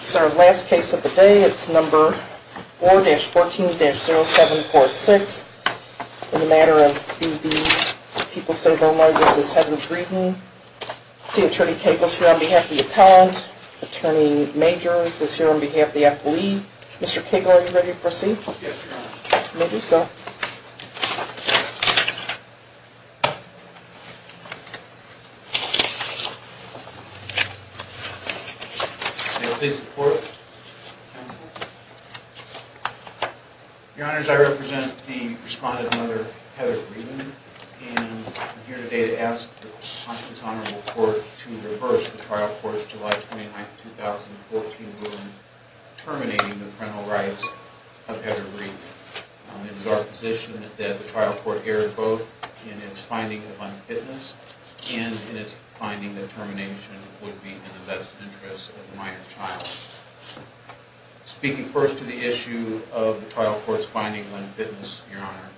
This is our last case of the day. It's number 4-14-0746. In the matter of B.B., People's State Homeowners is Heather Breeden. C. Attorney Cagle is here on behalf of the appellant. Attorney Majors is here on behalf of the appellee. Mr. Cagle, are you ready to proceed? Yes, Your Honor. Let me do so. May it please the Court. Your Honors, I represent the responsible mother, Heather Breeden. And I'm here today to ask the Conscience Honorable Court to reverse the trial court's July 29, 2014 ruling terminating the parental rights of Heather Breeden. It is our position that the trial court erred both in its finding of unfitness and in its finding that termination would be in the best interest of the minor child. Speaking first to the issue of the trial court's finding of unfitness, Your Honor,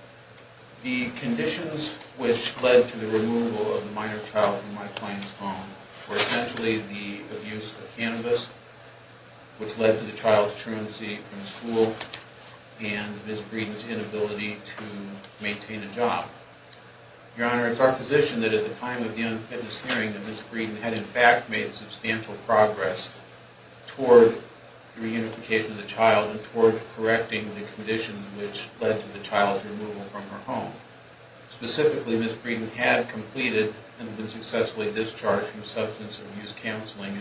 the conditions which led to the removal of the minor child from my client's home were essentially the abuse of cannabis, which led to the child's truancy from school, and Ms. Breeden's inability to maintain a job. Your Honor, it's our position that at the time of the unfitness hearing, that Ms. Breeden had in fact made substantial progress toward the reunification of the child and toward correcting the conditions which led to the child's removal from her home. Specifically, Ms. Breeden had completed and been successfully discharged from substance abuse counseling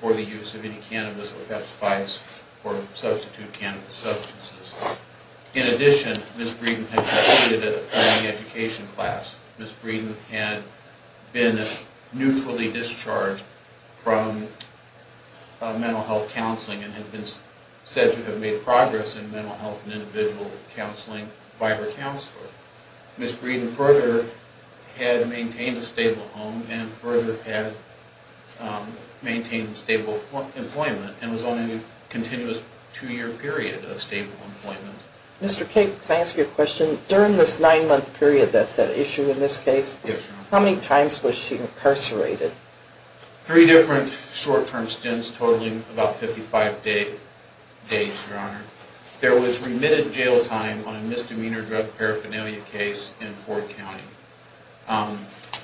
for the use of any cannabis or Pepsifis or substitute cannabis substances. In addition, Ms. Breeden had completed an education class. Ms. Breeden had been neutrally discharged from mental health counseling and had been said to have made progress in mental health and individual counseling by her counselor. Ms. Breeden further had maintained a stable home and further had maintained stable employment and was on a continuous two-year period of stable employment. Mr. Cabe, can I ask you a question? During this nine-month period that's at issue in this case, how many times was she incarcerated? Three different short-term stints totaling about 55 days, Your Honor. There was remitted jail time on a misdemeanor drug paraphernalia case in Ford County.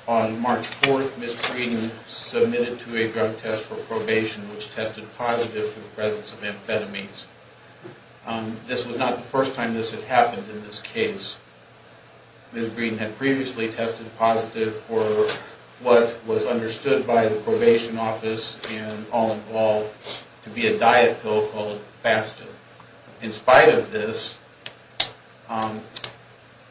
On March 4th, Ms. Breeden submitted to a drug test for probation, which tested positive for the presence of amphetamines. This was not the first time this had happened in this case. Ms. Breeden had previously tested positive for what was understood by the probation office and all involved to be a diet pill called FASTA. In spite of this,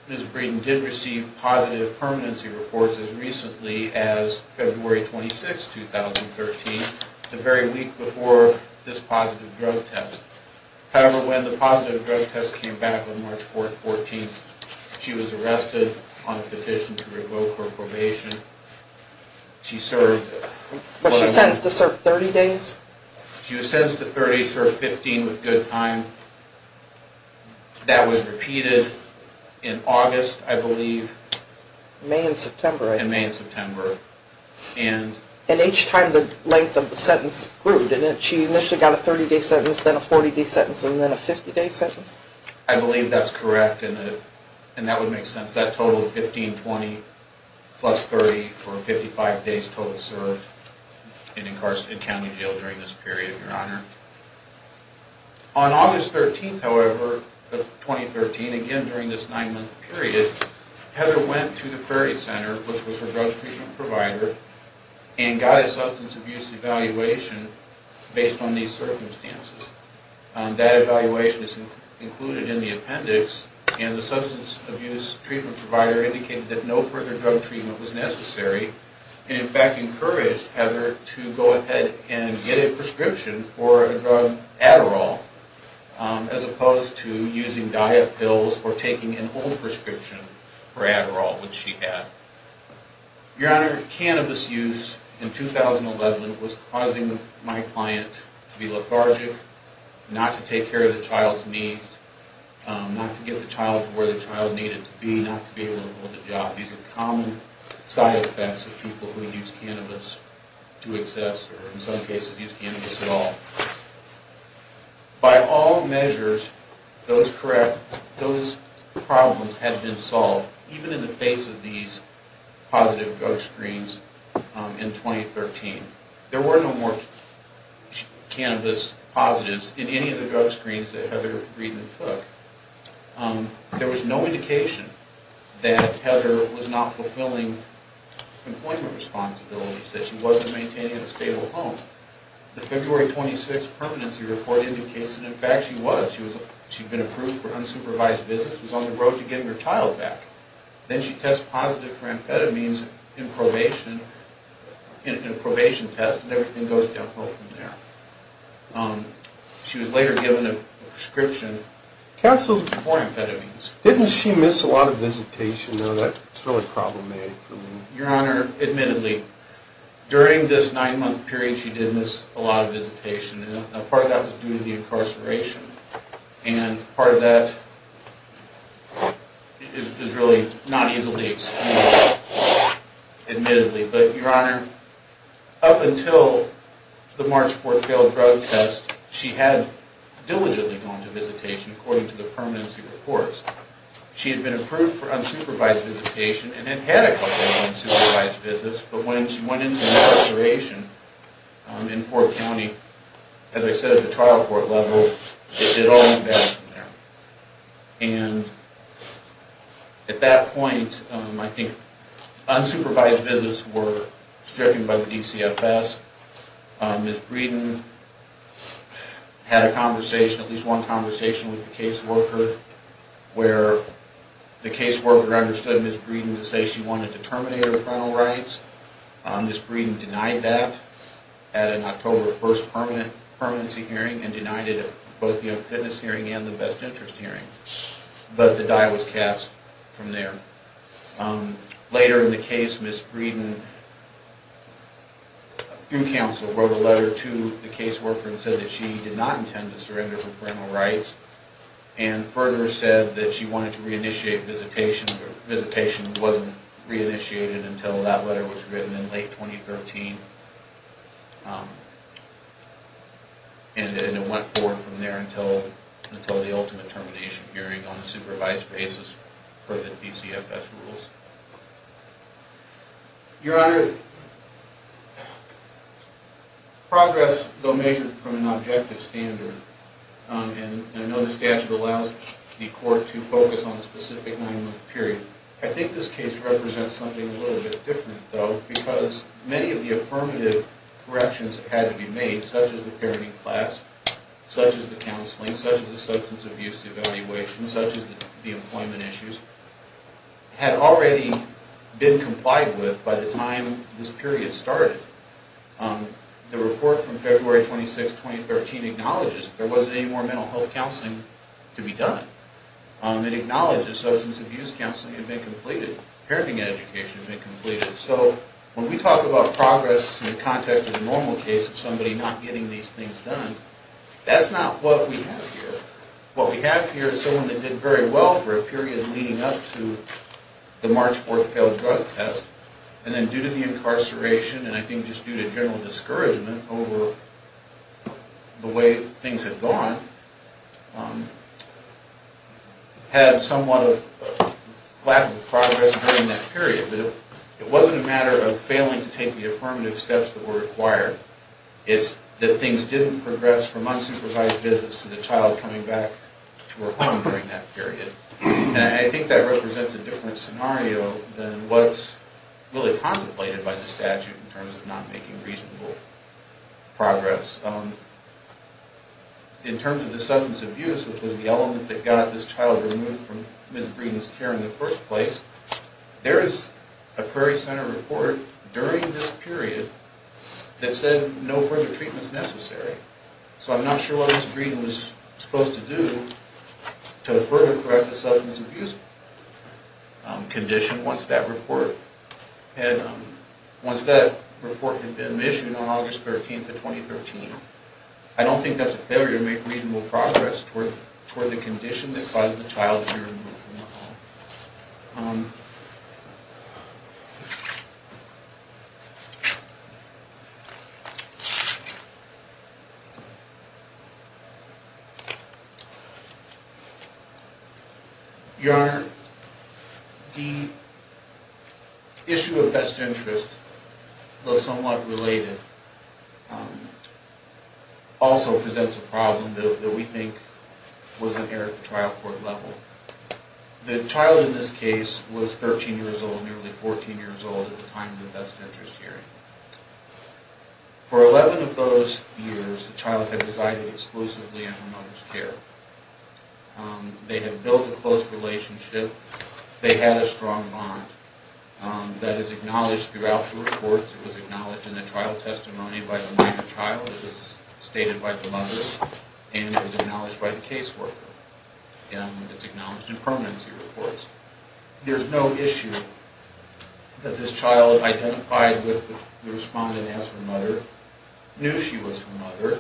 Ms. Breeden did receive positive permanency reports as recently as February 26, 2013, the very week before this positive drug test. However, when the positive drug test came back on March 4th, 2014, she was arrested on a petition to revoke her probation. Was she sentenced to serve 30 days? She was sentenced to 30, served 15 with good time. That was repeated in August, I believe. May and September, right? In May and September. And each time the length of the sentence grew, didn't it? She initially got a 30-day sentence, then a 40-day sentence, and then a 50-day sentence? I believe that's correct, and that would make sense. That's that total of 15, 20, plus 30 for 55 days total served in county jail during this period, Your Honor. On August 13th, however, of 2013, again during this nine-month period, Heather went to the Prairie Center, which was her drug treatment provider, and got a substance abuse evaluation based on these circumstances. That evaluation is included in the appendix, and the substance abuse treatment provider indicated that no further drug treatment was necessary, and in fact encouraged Heather to go ahead and get a prescription for a drug Adderall, as opposed to using diet pills or taking an old prescription for Adderall, which she had. Your Honor, cannabis use in 2011 was causing my client to be lethargic, not to take care of the child's needs, not to get the child to where the child needed to be, not to be able to hold a job. These are common side effects of people who use cannabis to excess, or in some cases use cannabis at all. By all measures, those problems had been solved. Even in the face of these positive drug screens in 2013, there were no more cannabis positives in any of the drug screens that Heather Greedman took. There was no indication that Heather was not fulfilling employment responsibilities, that she wasn't maintaining a stable home. The February 26th permanency report indicates that in fact she was. She'd been approved for unsupervised visits, was on the road to getting her child back. Then she tests positive for amphetamines in probation, in a probation test, and everything goes downhill from there. She was later given a prescription. Canceled before amphetamines. Didn't she miss a lot of visitation, though? That's really problematic for me. Your Honor, admittedly, during this nine-month period she did miss a lot of visitation, and a part of that was due to the incarceration, and part of that is really not easily explained, admittedly. But, Your Honor, up until the March 4th failed drug test, she had diligently gone to visitation according to the permanency reports. She had been approved for unsupervised visitation and had had a couple of unsupervised visits, but when she went into incarceration in Ford County, as I said, at the trial court level, it all went downhill from there. And at that point, I think, unsupervised visits were stricken by the DCFS. Ms. Breeden had a conversation, at least one conversation with the caseworker, where the caseworker understood Ms. Breeden to say she wanted to terminate her parental rights. Ms. Breeden denied that at an October 1st permanency hearing and denied it at both the unfitness hearing and the best interest hearing. But the die was cast from there. Later in the case, Ms. Breeden, through counsel, wrote a letter to the caseworker and said that she did not intend to surrender her parental rights, and further said that she wanted to re-initiate visitation, but visitation wasn't re-initiated until that letter was written in late 2013. And it went forward from there until the ultimate termination hearing on a supervised basis per the DCFS rules. Your Honor, progress, though measured from an objective standard, and I know the statute allows the court to focus on a specific nine-month period, I think this case represents something a little bit different, though, because many of the affirmative corrections that had to be made, such as the parenting class, such as the counseling, such as the substance abuse evaluation, such as the employment issues, had already been complied with by the time this period started. The report from February 26, 2013, acknowledges there wasn't any more mental health counseling to be done. It acknowledges substance abuse counseling had been completed, parenting education had been completed. So when we talk about progress in the context of a normal case of somebody not getting these things done, that's not what we have here. What we have here is someone that did very well for a period leading up to the March 4th failed drug test, and then due to the incarceration, and I think just due to general discouragement over the way things had gone, had somewhat of a lack of progress during that period. But it wasn't a matter of failing to take the affirmative steps that were required. It's that things didn't progress from unsupervised visits to the child coming back to her home during that period. And I think that represents a different scenario than what's really contemplated by the statute in terms of not making reasonable progress. In terms of the substance abuse, which was the element that got this child removed from Ms. Breen's care in the first place, there is a Prairie Center report during this period that said no further treatment is necessary. So I'm not sure what Ms. Breen was supposed to do to further correct the substance abuse condition once that report had been issued on August 13th of 2013. I don't think that's a failure to make reasonable progress toward the condition that caused the child to be removed from the home. Your Honor, the issue of best interest, though somewhat related, also presents a problem that we think was an error at the trial court level. The child in this case was 13 years old, nearly 14 years old at the time of the best interest hearing. For 11 of those years, the child had resided exclusively in her mother's care. They had built a close relationship. They had a strong bond. That is acknowledged throughout the report. It was acknowledged in the trial testimony by the minor child. It was stated by the mother. And it was acknowledged by the caseworker. And it's acknowledged in permanency reports. There's no issue that this child identified with the respondent as her mother, knew she was her mother,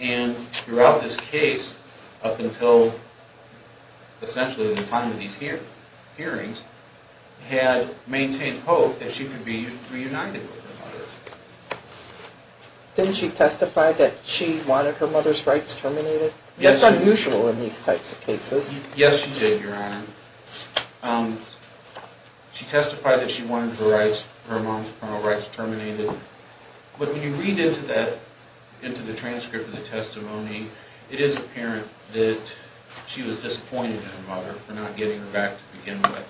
and throughout this case up until essentially the time of these hearings, had maintained hope that she could be reunited with her mother. Didn't she testify that she wanted her mother's rights terminated? That's unusual in these types of cases. Yes, she did, Your Honor. She testified that she wanted her mom's parental rights terminated. But when you read into the transcript of the testimony, it is apparent that she was disappointed in her mother for not getting her back to begin with.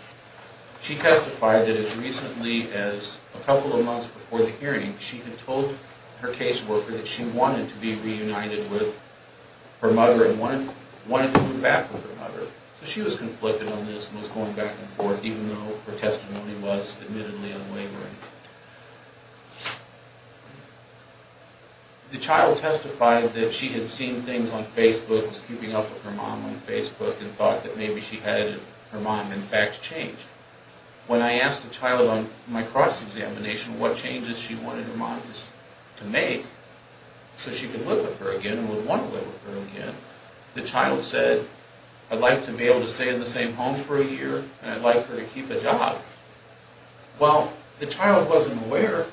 She testified that as recently as a couple of months before the hearing, she had told her caseworker that she wanted to be reunited with her mother and wanted to move back with her mother. So she was conflicted on this and was going back and forth, even though her testimony was admittedly unwavering. The child testified that she had seen things on Facebook, was keeping up with her mom on Facebook, and thought that maybe she had and her mom, in fact, changed. When I asked the child on my cross-examination what changes she wanted her mom to make so she could live with her again and would want to live with her again, the child said, I'd like to be able to stay in the same home for a year and I'd like her to keep a job. Well, the child wasn't aware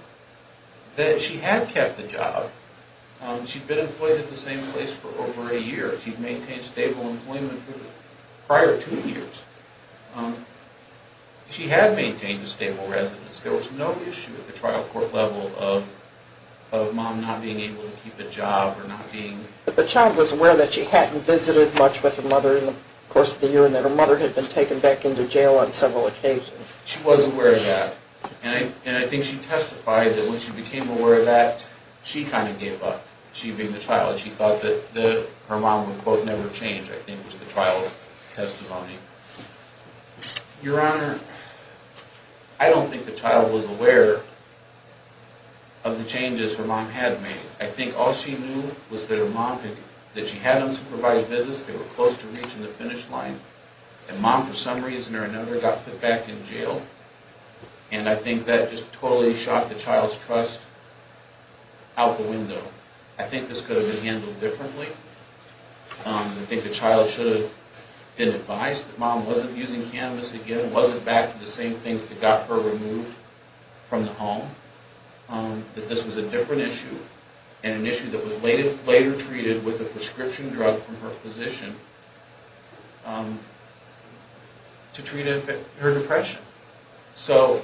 that she had kept a job. She'd been employed at the same place for over a year. She'd maintained stable employment for the prior two years. She had maintained a stable residence. There was no issue at the trial court level of mom not being able to keep a job or not being... But the child was aware that she hadn't visited much with her mother in the course of the year and that her mother had been taken back into jail on several occasions. She was aware of that. And I think she testified that when she became aware of that, she kind of gave up, she being the child. She thought that her mom would never change, I think, was the trial testimony. Your Honor, I don't think the child was aware of the changes her mom had made. I think all she knew was that her mom, that she had unsupervised business, they were close to reaching the finish line, and mom, for some reason or another, got put back in jail. And I think that just totally shot the child's trust out the window. I think this could have been handled differently. I think the child should have been advised that mom wasn't using cannabis again, wasn't back to the same things that got her removed from the home, that this was a different issue and an issue that was later treated with a prescription drug from her physician to treat her depression. So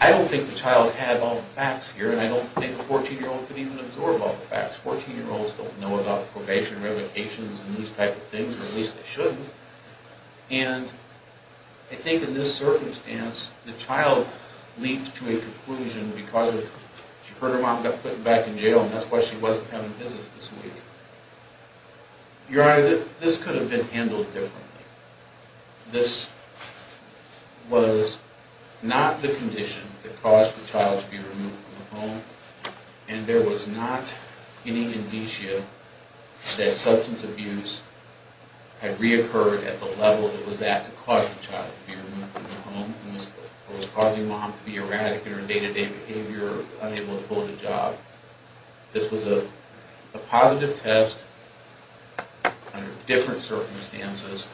I don't think the child had all the facts here, and I don't think a 14-year-old could even absorb all the facts. Fourteen-year-olds don't know about probation, revocations, and these type of things, or at least they shouldn't. And I think in this circumstance, the child leaped to a conclusion because she heard her mom got put back in jail, and that's why she wasn't having business this week. Your Honor, this could have been handled differently. This was not the condition that caused the child to be removed from the home, and there was not any indicia that substance abuse had reoccurred at the level it was at to cause the child to be removed from the home. It was causing mom to be erratic in her day-to-day behavior, unable to hold a job. This was a positive test under different circumstances.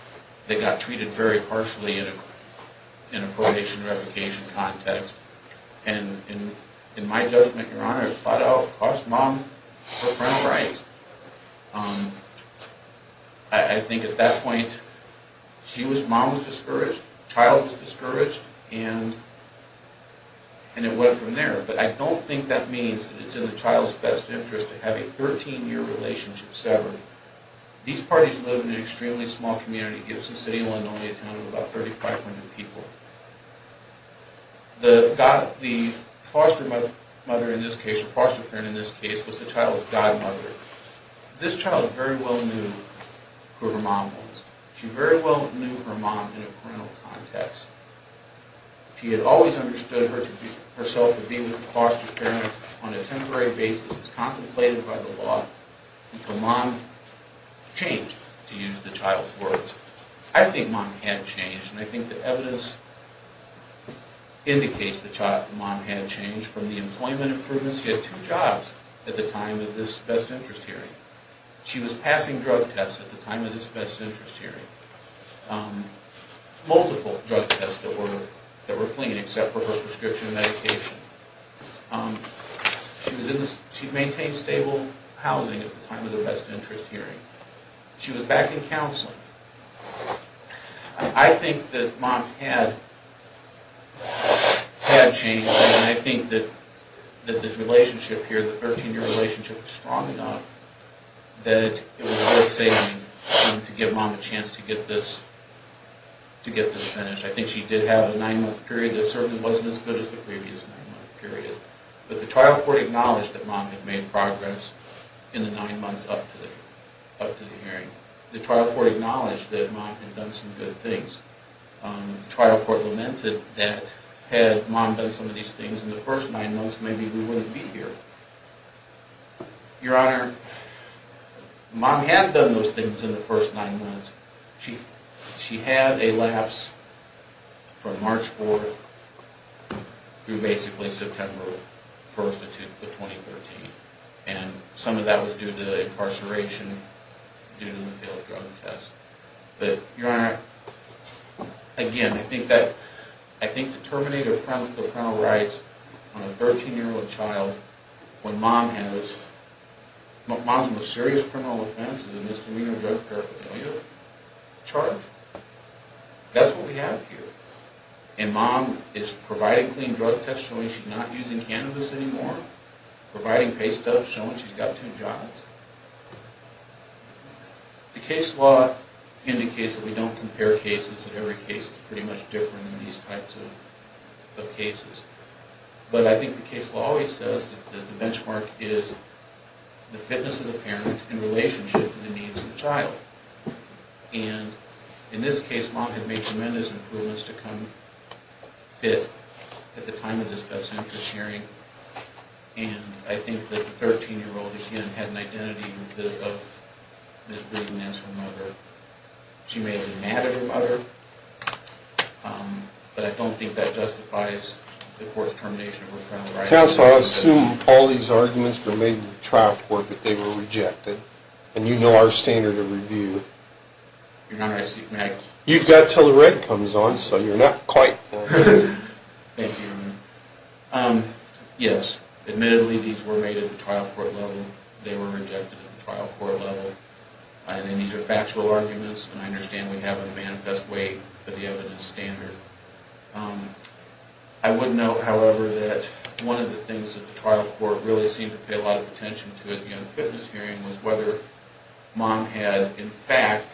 They got treated very partially in a probation-revocation context. And in my judgment, Your Honor, it's about how it cost mom her parental rights. I think at that point, mom was discouraged, the child was discouraged, and it went from there. But I don't think that means that it's in the child's best interest to have a 13-year relationship severed. These parties live in an extremely small community. Gibson City, Illinois, a town of about 3,500 people. The foster mother in this case, or foster parent in this case, was the child's godmother. This child very well knew who her mom was. She very well knew her mom in a parental context. She had always understood herself to be with a foster parent on a temporary basis as contemplated by the law, and so mom changed, to use the child's words. I think mom had changed, and I think the evidence indicates that mom had changed from the employment improvements. She had two jobs at the time of this best interest hearing. She was passing drug tests at the time of this best interest hearing. Multiple drug tests that were clean except for her prescription medication. She maintained stable housing at the time of the best interest hearing. She was back in counseling. I think that mom had changed, and I think that this relationship here, the 13-year relationship, was strong enough that it was worth saving to give mom a chance to get this finished. I think she did have a nine-month period that certainly wasn't as good as the previous nine-month period. But the trial court acknowledged that mom had made progress in the nine months up to the hearing. The trial court acknowledged that mom had done some good things. The trial court lamented that had mom done some of these things in the first nine months, maybe we wouldn't be here. Your Honor, mom had done those things in the first nine months. She had a lapse from March 4th through basically September 1st of 2013. And some of that was due to the incarceration, due to the failed drug test. But, Your Honor, again, I think to terminate a parental rights on a 13-year-old child when mom has... Mom's most serious criminal offense is a misdemeanor drug paraphernalia charge. That's what we have here. And mom is providing clean drug tests showing she's not using cannabis anymore, providing pay stubs showing she's got two jobs. The case law indicates that we don't compare cases, that every case is pretty much different in these types of cases. But I think the case law always says that the benchmark is the fitness of the parent in relationship to the needs of the child. And in this case, mom had made tremendous improvements to come fit at the time of this best interest hearing. And I think that the 13-year-old, again, had an identity of misbehaving as her mother. She may have been mad at her mother. But I don't think that justifies the court's termination of parental rights. Counsel, I assume all these arguments were made to the trial court, but they were rejected. And you know our standard of review. Your Honor, I see... You've got until the red comes on, so you're not quite there. Thank you, Your Honor. Yes, admittedly, these were made at the trial court level. They were rejected at the trial court level. And these are factual arguments, and I understand we have a manifest way for the evidence standard. I would note, however, that one of the things that the trial court really seemed to pay a lot of attention to at the unfitness hearing was whether mom had, in fact,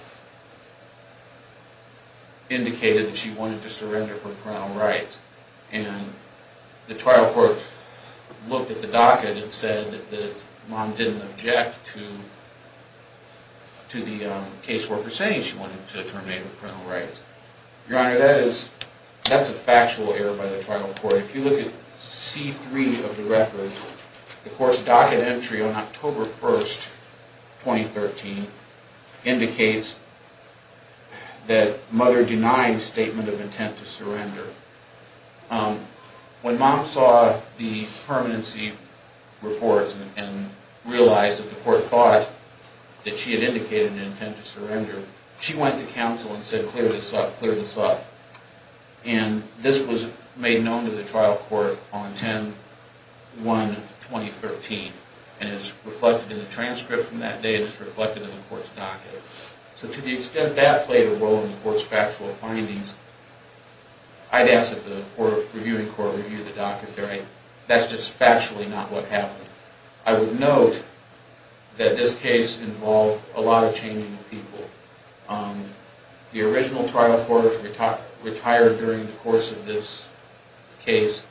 indicated that she wanted to surrender her parental rights. And the trial court looked at the docket and said that mom didn't object to the caseworker saying she wanted to terminate her parental rights. Your Honor, that's a factual error by the trial court. If you look at C-3 of the record, the court's docket entry on October 1, 2013, indicates that mother denied statement of intent to surrender. When mom saw the permanency reports and realized that the court thought that she had indicated an intent to surrender, she went to counsel and said, clear this up, clear this up. And this was made known to the trial court on 10-1-2013. And it's reflected in the transcript from that day, and it's reflected in the court's docket. So to the extent that played a role in the court's factual findings, I'd ask that the reviewing court review the docket there. That's just factually not what happened. I would note that this case involved a lot of changing of people. The original trial court retired during the course of this case.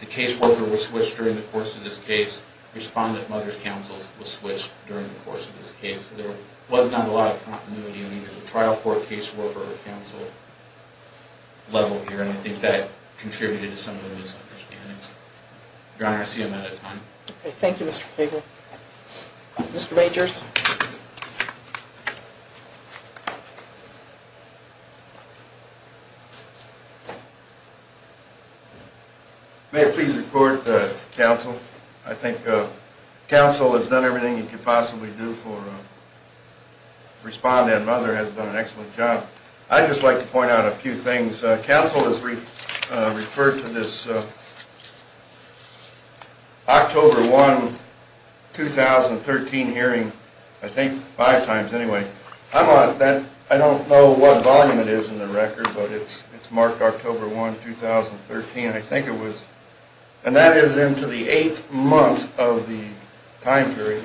The caseworker was switched during the course of this case. Respondent mother's counsel was switched during the course of this case. There was not a lot of continuity in either the trial court, caseworker, or counsel level here, and I think that contributed to some of the misunderstandings. Your Honor, I see I'm out of time. Okay, thank you, Mr. Fager. Mr. Majors. May it please the court, counsel. I think counsel has done everything he could possibly do for respondent mother and has done an excellent job. I'd just like to point out a few things. Counsel has referred to this October 1, 2013 hearing, I think five times anyway. I don't know what volume it is in the record, but it's marked October 1, 2013. I think it was, and that is into the eighth month of the time period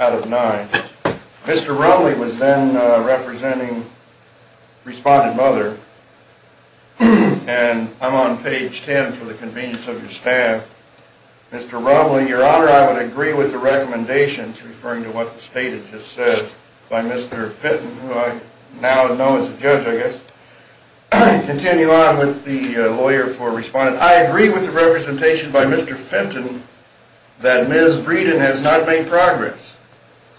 out of nine. Mr. Rumley was then representing respondent mother, and I'm on page 10 for the convenience of your staff. Mr. Rumley, Your Honor, I would agree with the recommendations referring to what the State had just said by Mr. Fitton, who I now know as a judge, I guess, continue on with the lawyer for respondent. I agree with the representation by Mr. Fitton that Ms. Breeden has not made progress.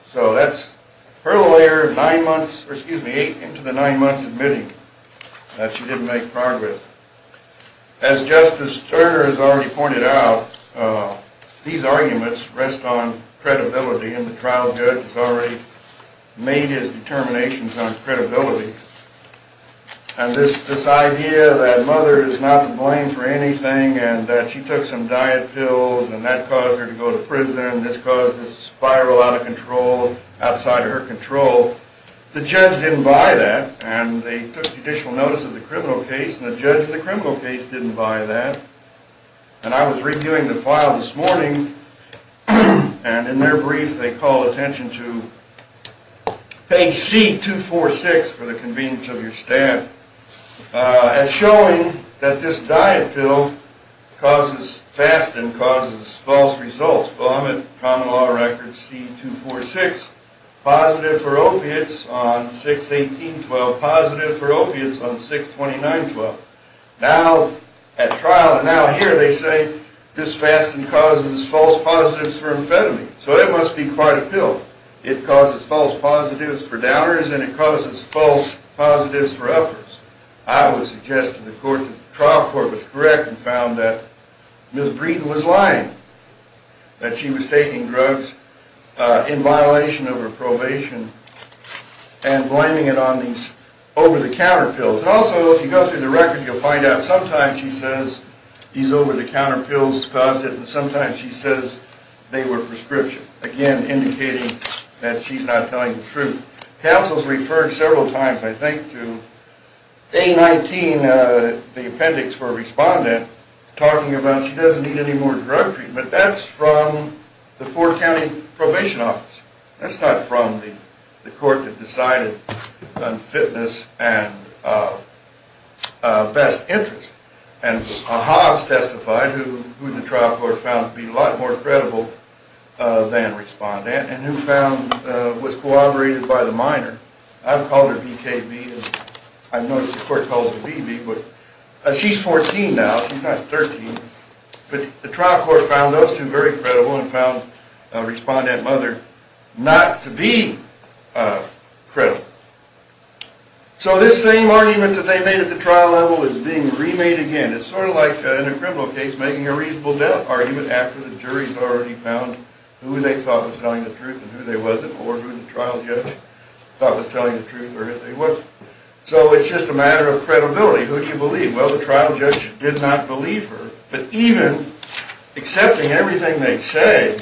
So that's her lawyer eight into the nine months admitting that she didn't make progress. As Justice Sterner has already pointed out, these arguments rest on credibility, and the trial judge has already made his determinations on credibility. And this idea that mother is not to blame for anything, and that she took some diet pills, and that caused her to go to prison, and this caused this spiral out of control, outside of her control, the judge didn't buy that, and they took judicial notice of the criminal case, and the judge of the criminal case didn't buy that. And I was reviewing the file this morning, and in their brief they call attention to page C-246 for the convenience of your staff, as showing that this diet pill causes fasting, causes false results, common law record C-246, positive for opiates on 6-18-12, positive for opiates on 6-29-12. Now, at trial, now here they say this fasting causes false positives for amphetamines, so it must be quite a pill. It causes false positives for downers, and it causes false positives for uppers. I would suggest to the court that the trial court was correct and found that Ms. Breeden was lying, that she was taking drugs in violation of her probation, and blaming it on these over-the-counter pills. And also, if you go through the record, you'll find out sometimes she says these over-the-counter pills caused it, and sometimes she says they were prescription, again, indicating that she's not telling the truth. Counsel's referred several times, I think, to A-19, the appendix for a respondent, talking about she doesn't need any more drug treatment. That's from the Fort County Probation Office. That's not from the court that decided on fitness and best interest. And Hobbs testified, who the trial court found to be a lot more credible than respondent, and who was corroborated by the minor. I've called her B-K-B, and I've noticed the court calls her B-B. She's 14 now. She's not 13. But the trial court found those two very credible, and found respondent mother not to be credible. So this same argument that they made at the trial level is being remade again. It's sort of like, in a criminal case, making a reasonable doubt argument after the jury's already found who they thought was telling the truth and who they wasn't, or who the trial judge thought was telling the truth or who they wasn't. So it's just a matter of credibility. Who do you believe? Well, the trial judge did not believe her. But even accepting everything they say,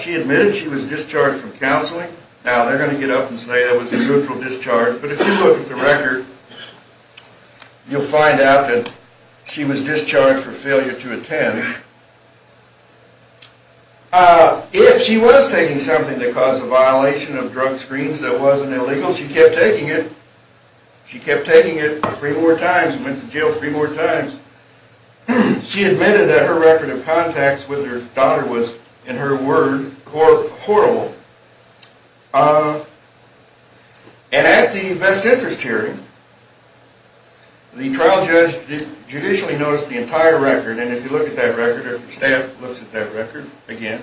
she admitted she was discharged from counseling. Now, they're going to get up and say that was a goodful discharge. But if you look at the record, you'll find out that she was discharged for failure to attend. If she was taking something that caused a violation of drug screens that wasn't illegal, she kept taking it. She kept taking it three more times and went to jail three more times. She admitted that her record of contacts with her daughter was, in her word, horrible. And at the best interest hearing, the trial judge judicially noticed the entire record. And if you look at that record, if your staff looks at that record again,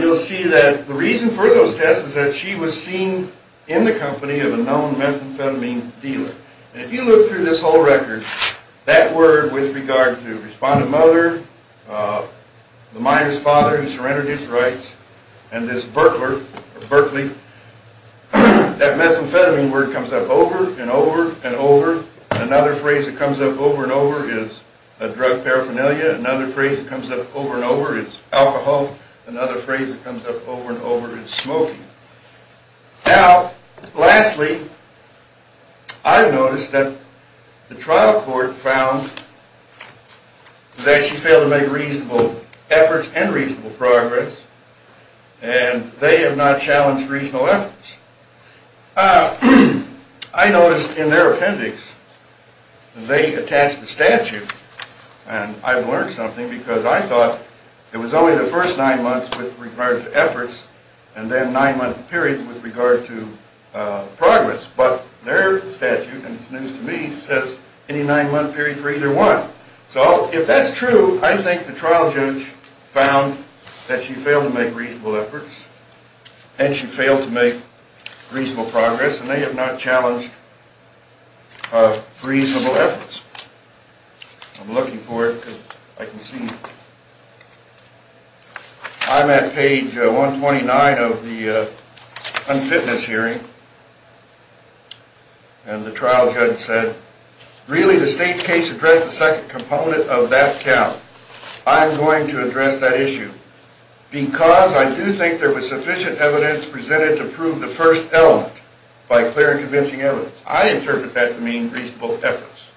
you'll see that the reason for those tests is that she was seen in the company of a known methamphetamine dealer. And if you look through this whole record, that word with regard to respondent mother, the miner's father who surrendered his rights, and this burtler, or burtly, that methamphetamine word comes up over and over and over. Another phrase that comes up over and over is a drug paraphernalia. Another phrase that comes up over and over is alcohol. Another phrase that comes up over and over is smoking. Now, lastly, I've noticed that the trial court found that she failed to make reasonable efforts and reasonable progress. And they have not challenged reasonable efforts. I noticed in their appendix they attached the statute. And I've learned something because I thought it was only the first nine months with regard to efforts and then nine-month period with regard to progress. But their statute, and it's news to me, says any nine-month period for either one. So if that's true, I think the trial judge found that she failed to make reasonable efforts and she failed to make reasonable progress, and they have not challenged reasonable efforts. I'm looking for it because I can see it. I'm at page 129 of the unfitness hearing. And the trial judge said, really the state's case addressed the second component of that count. I'm going to address that issue. Because I do think there was sufficient evidence presented to prove the first element by clear and convincing evidence. I interpret that to mean reasonable efforts.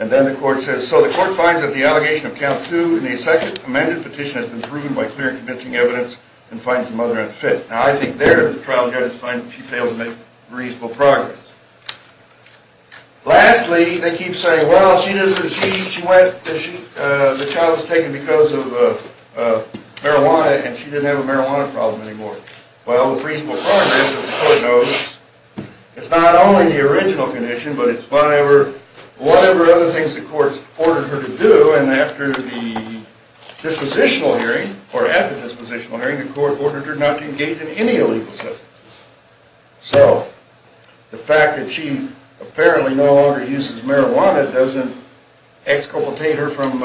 And then the court says, so the court finds that the allegation of count two in the second amended petition has been proven by clear and convincing evidence and finds the mother unfit. Now, I think there the trial judge finds that she failed to make reasonable progress. Lastly, they keep saying, well, she went, the child was taken because of marijuana and she didn't have a marijuana problem anymore. Well, with reasonable progress, the court knows it's not only the original condition, but it's whatever other things the court's ordered her to do. And after the dispositional hearing, or at the dispositional hearing, the court ordered her not to engage in any illegal substance. So, the fact that she apparently no longer uses marijuana doesn't exculpate her from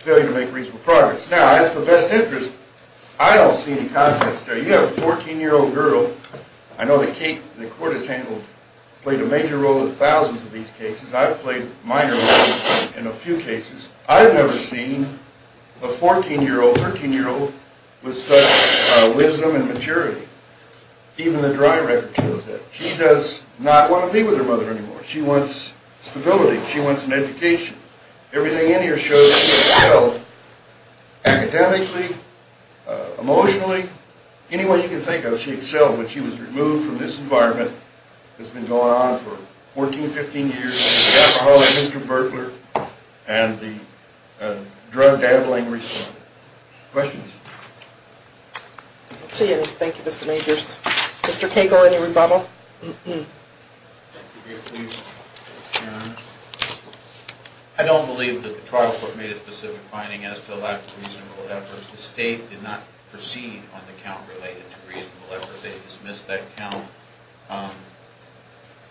failure to make reasonable progress. Now, that's the best interest. I don't see any conflicts there. You have a 14-year-old girl. I know the court has handled, played a major role in thousands of these cases. I've played minor roles in a few cases. I've never seen a 14-year-old, 13-year-old with such wisdom and maturity. Even the dry record shows that. She does not want to be with her mother anymore. She wants stability. She wants an education. Everything in here shows that she excelled academically, emotionally, any way you can think of, she excelled when she was removed from this environment that's been going on for 14, 15 years. Mr. Burkler and the drug gambling report. Questions? I don't see any. Thank you, Mr. Majors. Mr. Cagle, any rebuttal? I don't believe that the trial court made a specific finding as to the lack of reasonable efforts. The state did not proceed on the count related to reasonable efforts. They dismissed that count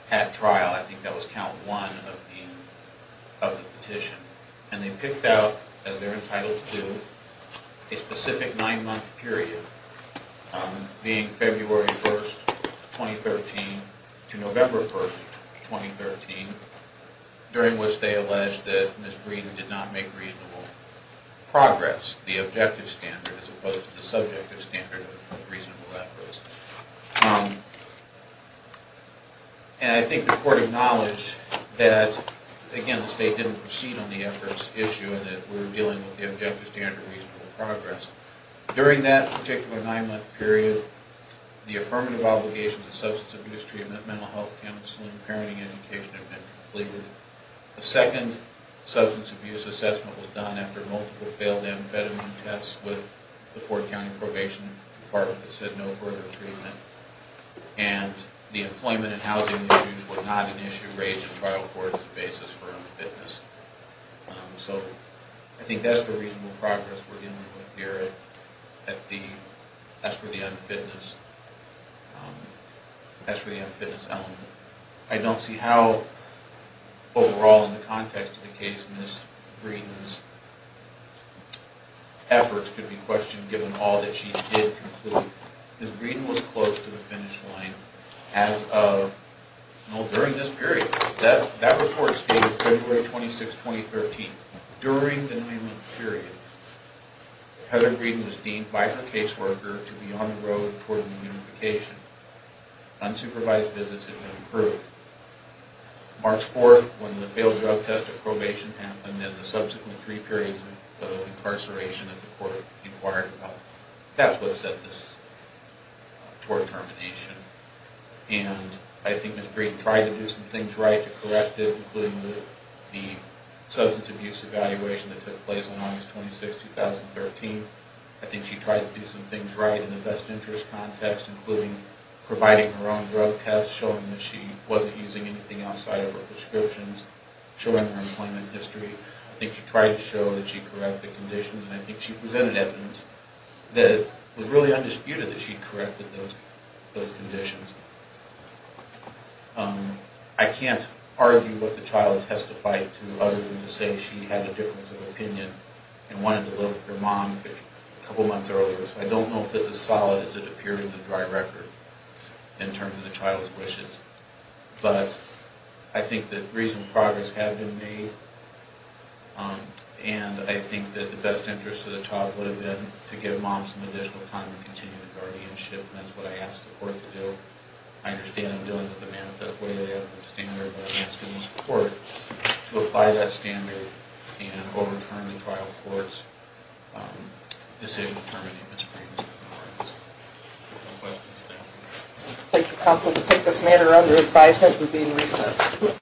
at trial. I think that was count one of the petition. And they picked out, as they're entitled to, a specific nine-month period, being February 1st, 2013 to November 1st, 2013, during which they alleged that Ms. Breeden did not make reasonable progress, the objective standard as opposed to the subjective standard of reasonable efforts. And I think the court acknowledged that, again, the state didn't proceed on the efforts issue and that we were dealing with the objective standard of reasonable progress. During that particular nine-month period, the affirmative obligations of substance abuse treatment, mental health counseling, and parenting education had been completed. The second substance abuse assessment was done after multiple failed amphetamine tests with the Ford County Probation Department that said no further treatment. And the employment and housing issues were not an issue raised at trial court as a basis for unfitness. So I think that's the reasonable progress we're dealing with here. That's for the unfitness element. I don't see how, overall, in the context of the case, Ms. Breeden's efforts could be questioned, given all that she did complete. Because Breeden was close to the finish line as of, well, during this period. That report stated February 26, 2013. During the nine-month period, Heather Breeden was deemed by her caseworker to be on the road toward reunification. Unsupervised visits had been approved. March 4, when the failed drug test and probation happened, and the subsequent three periods of incarceration that the court inquired about. That's what set this toward termination. And I think Ms. Breeden tried to do some things right to correct it, including the substance abuse evaluation that took place on August 26, 2013. I think she tried to do some things right in the best interest context, including providing her own drug test, showing that she wasn't using anything outside of her prescriptions, showing her employment history. I think she tried to show that she corrected the conditions, and I think she presented evidence that it was really undisputed that she corrected those conditions. I can't argue what the child testified to, other than to say she had a difference of opinion and wanted to live with her mom a couple months earlier. I don't know if it's as solid as it appeared in the dry record, in terms of the child's wishes. But I think that reasonable progress had been made, and I think that the best interest of the child would have been to give mom some additional time to continue the guardianship, and that's what I asked the court to do. I understand I'm dealing with a manifest way evidence standard, but I'm asking the court to apply that standard and overturn the trial of courts disabling the permanency of its previous guardians. That's all the questions. Thank you. Thank you, counsel. We'll take this matter under advisement. We'll be in recess.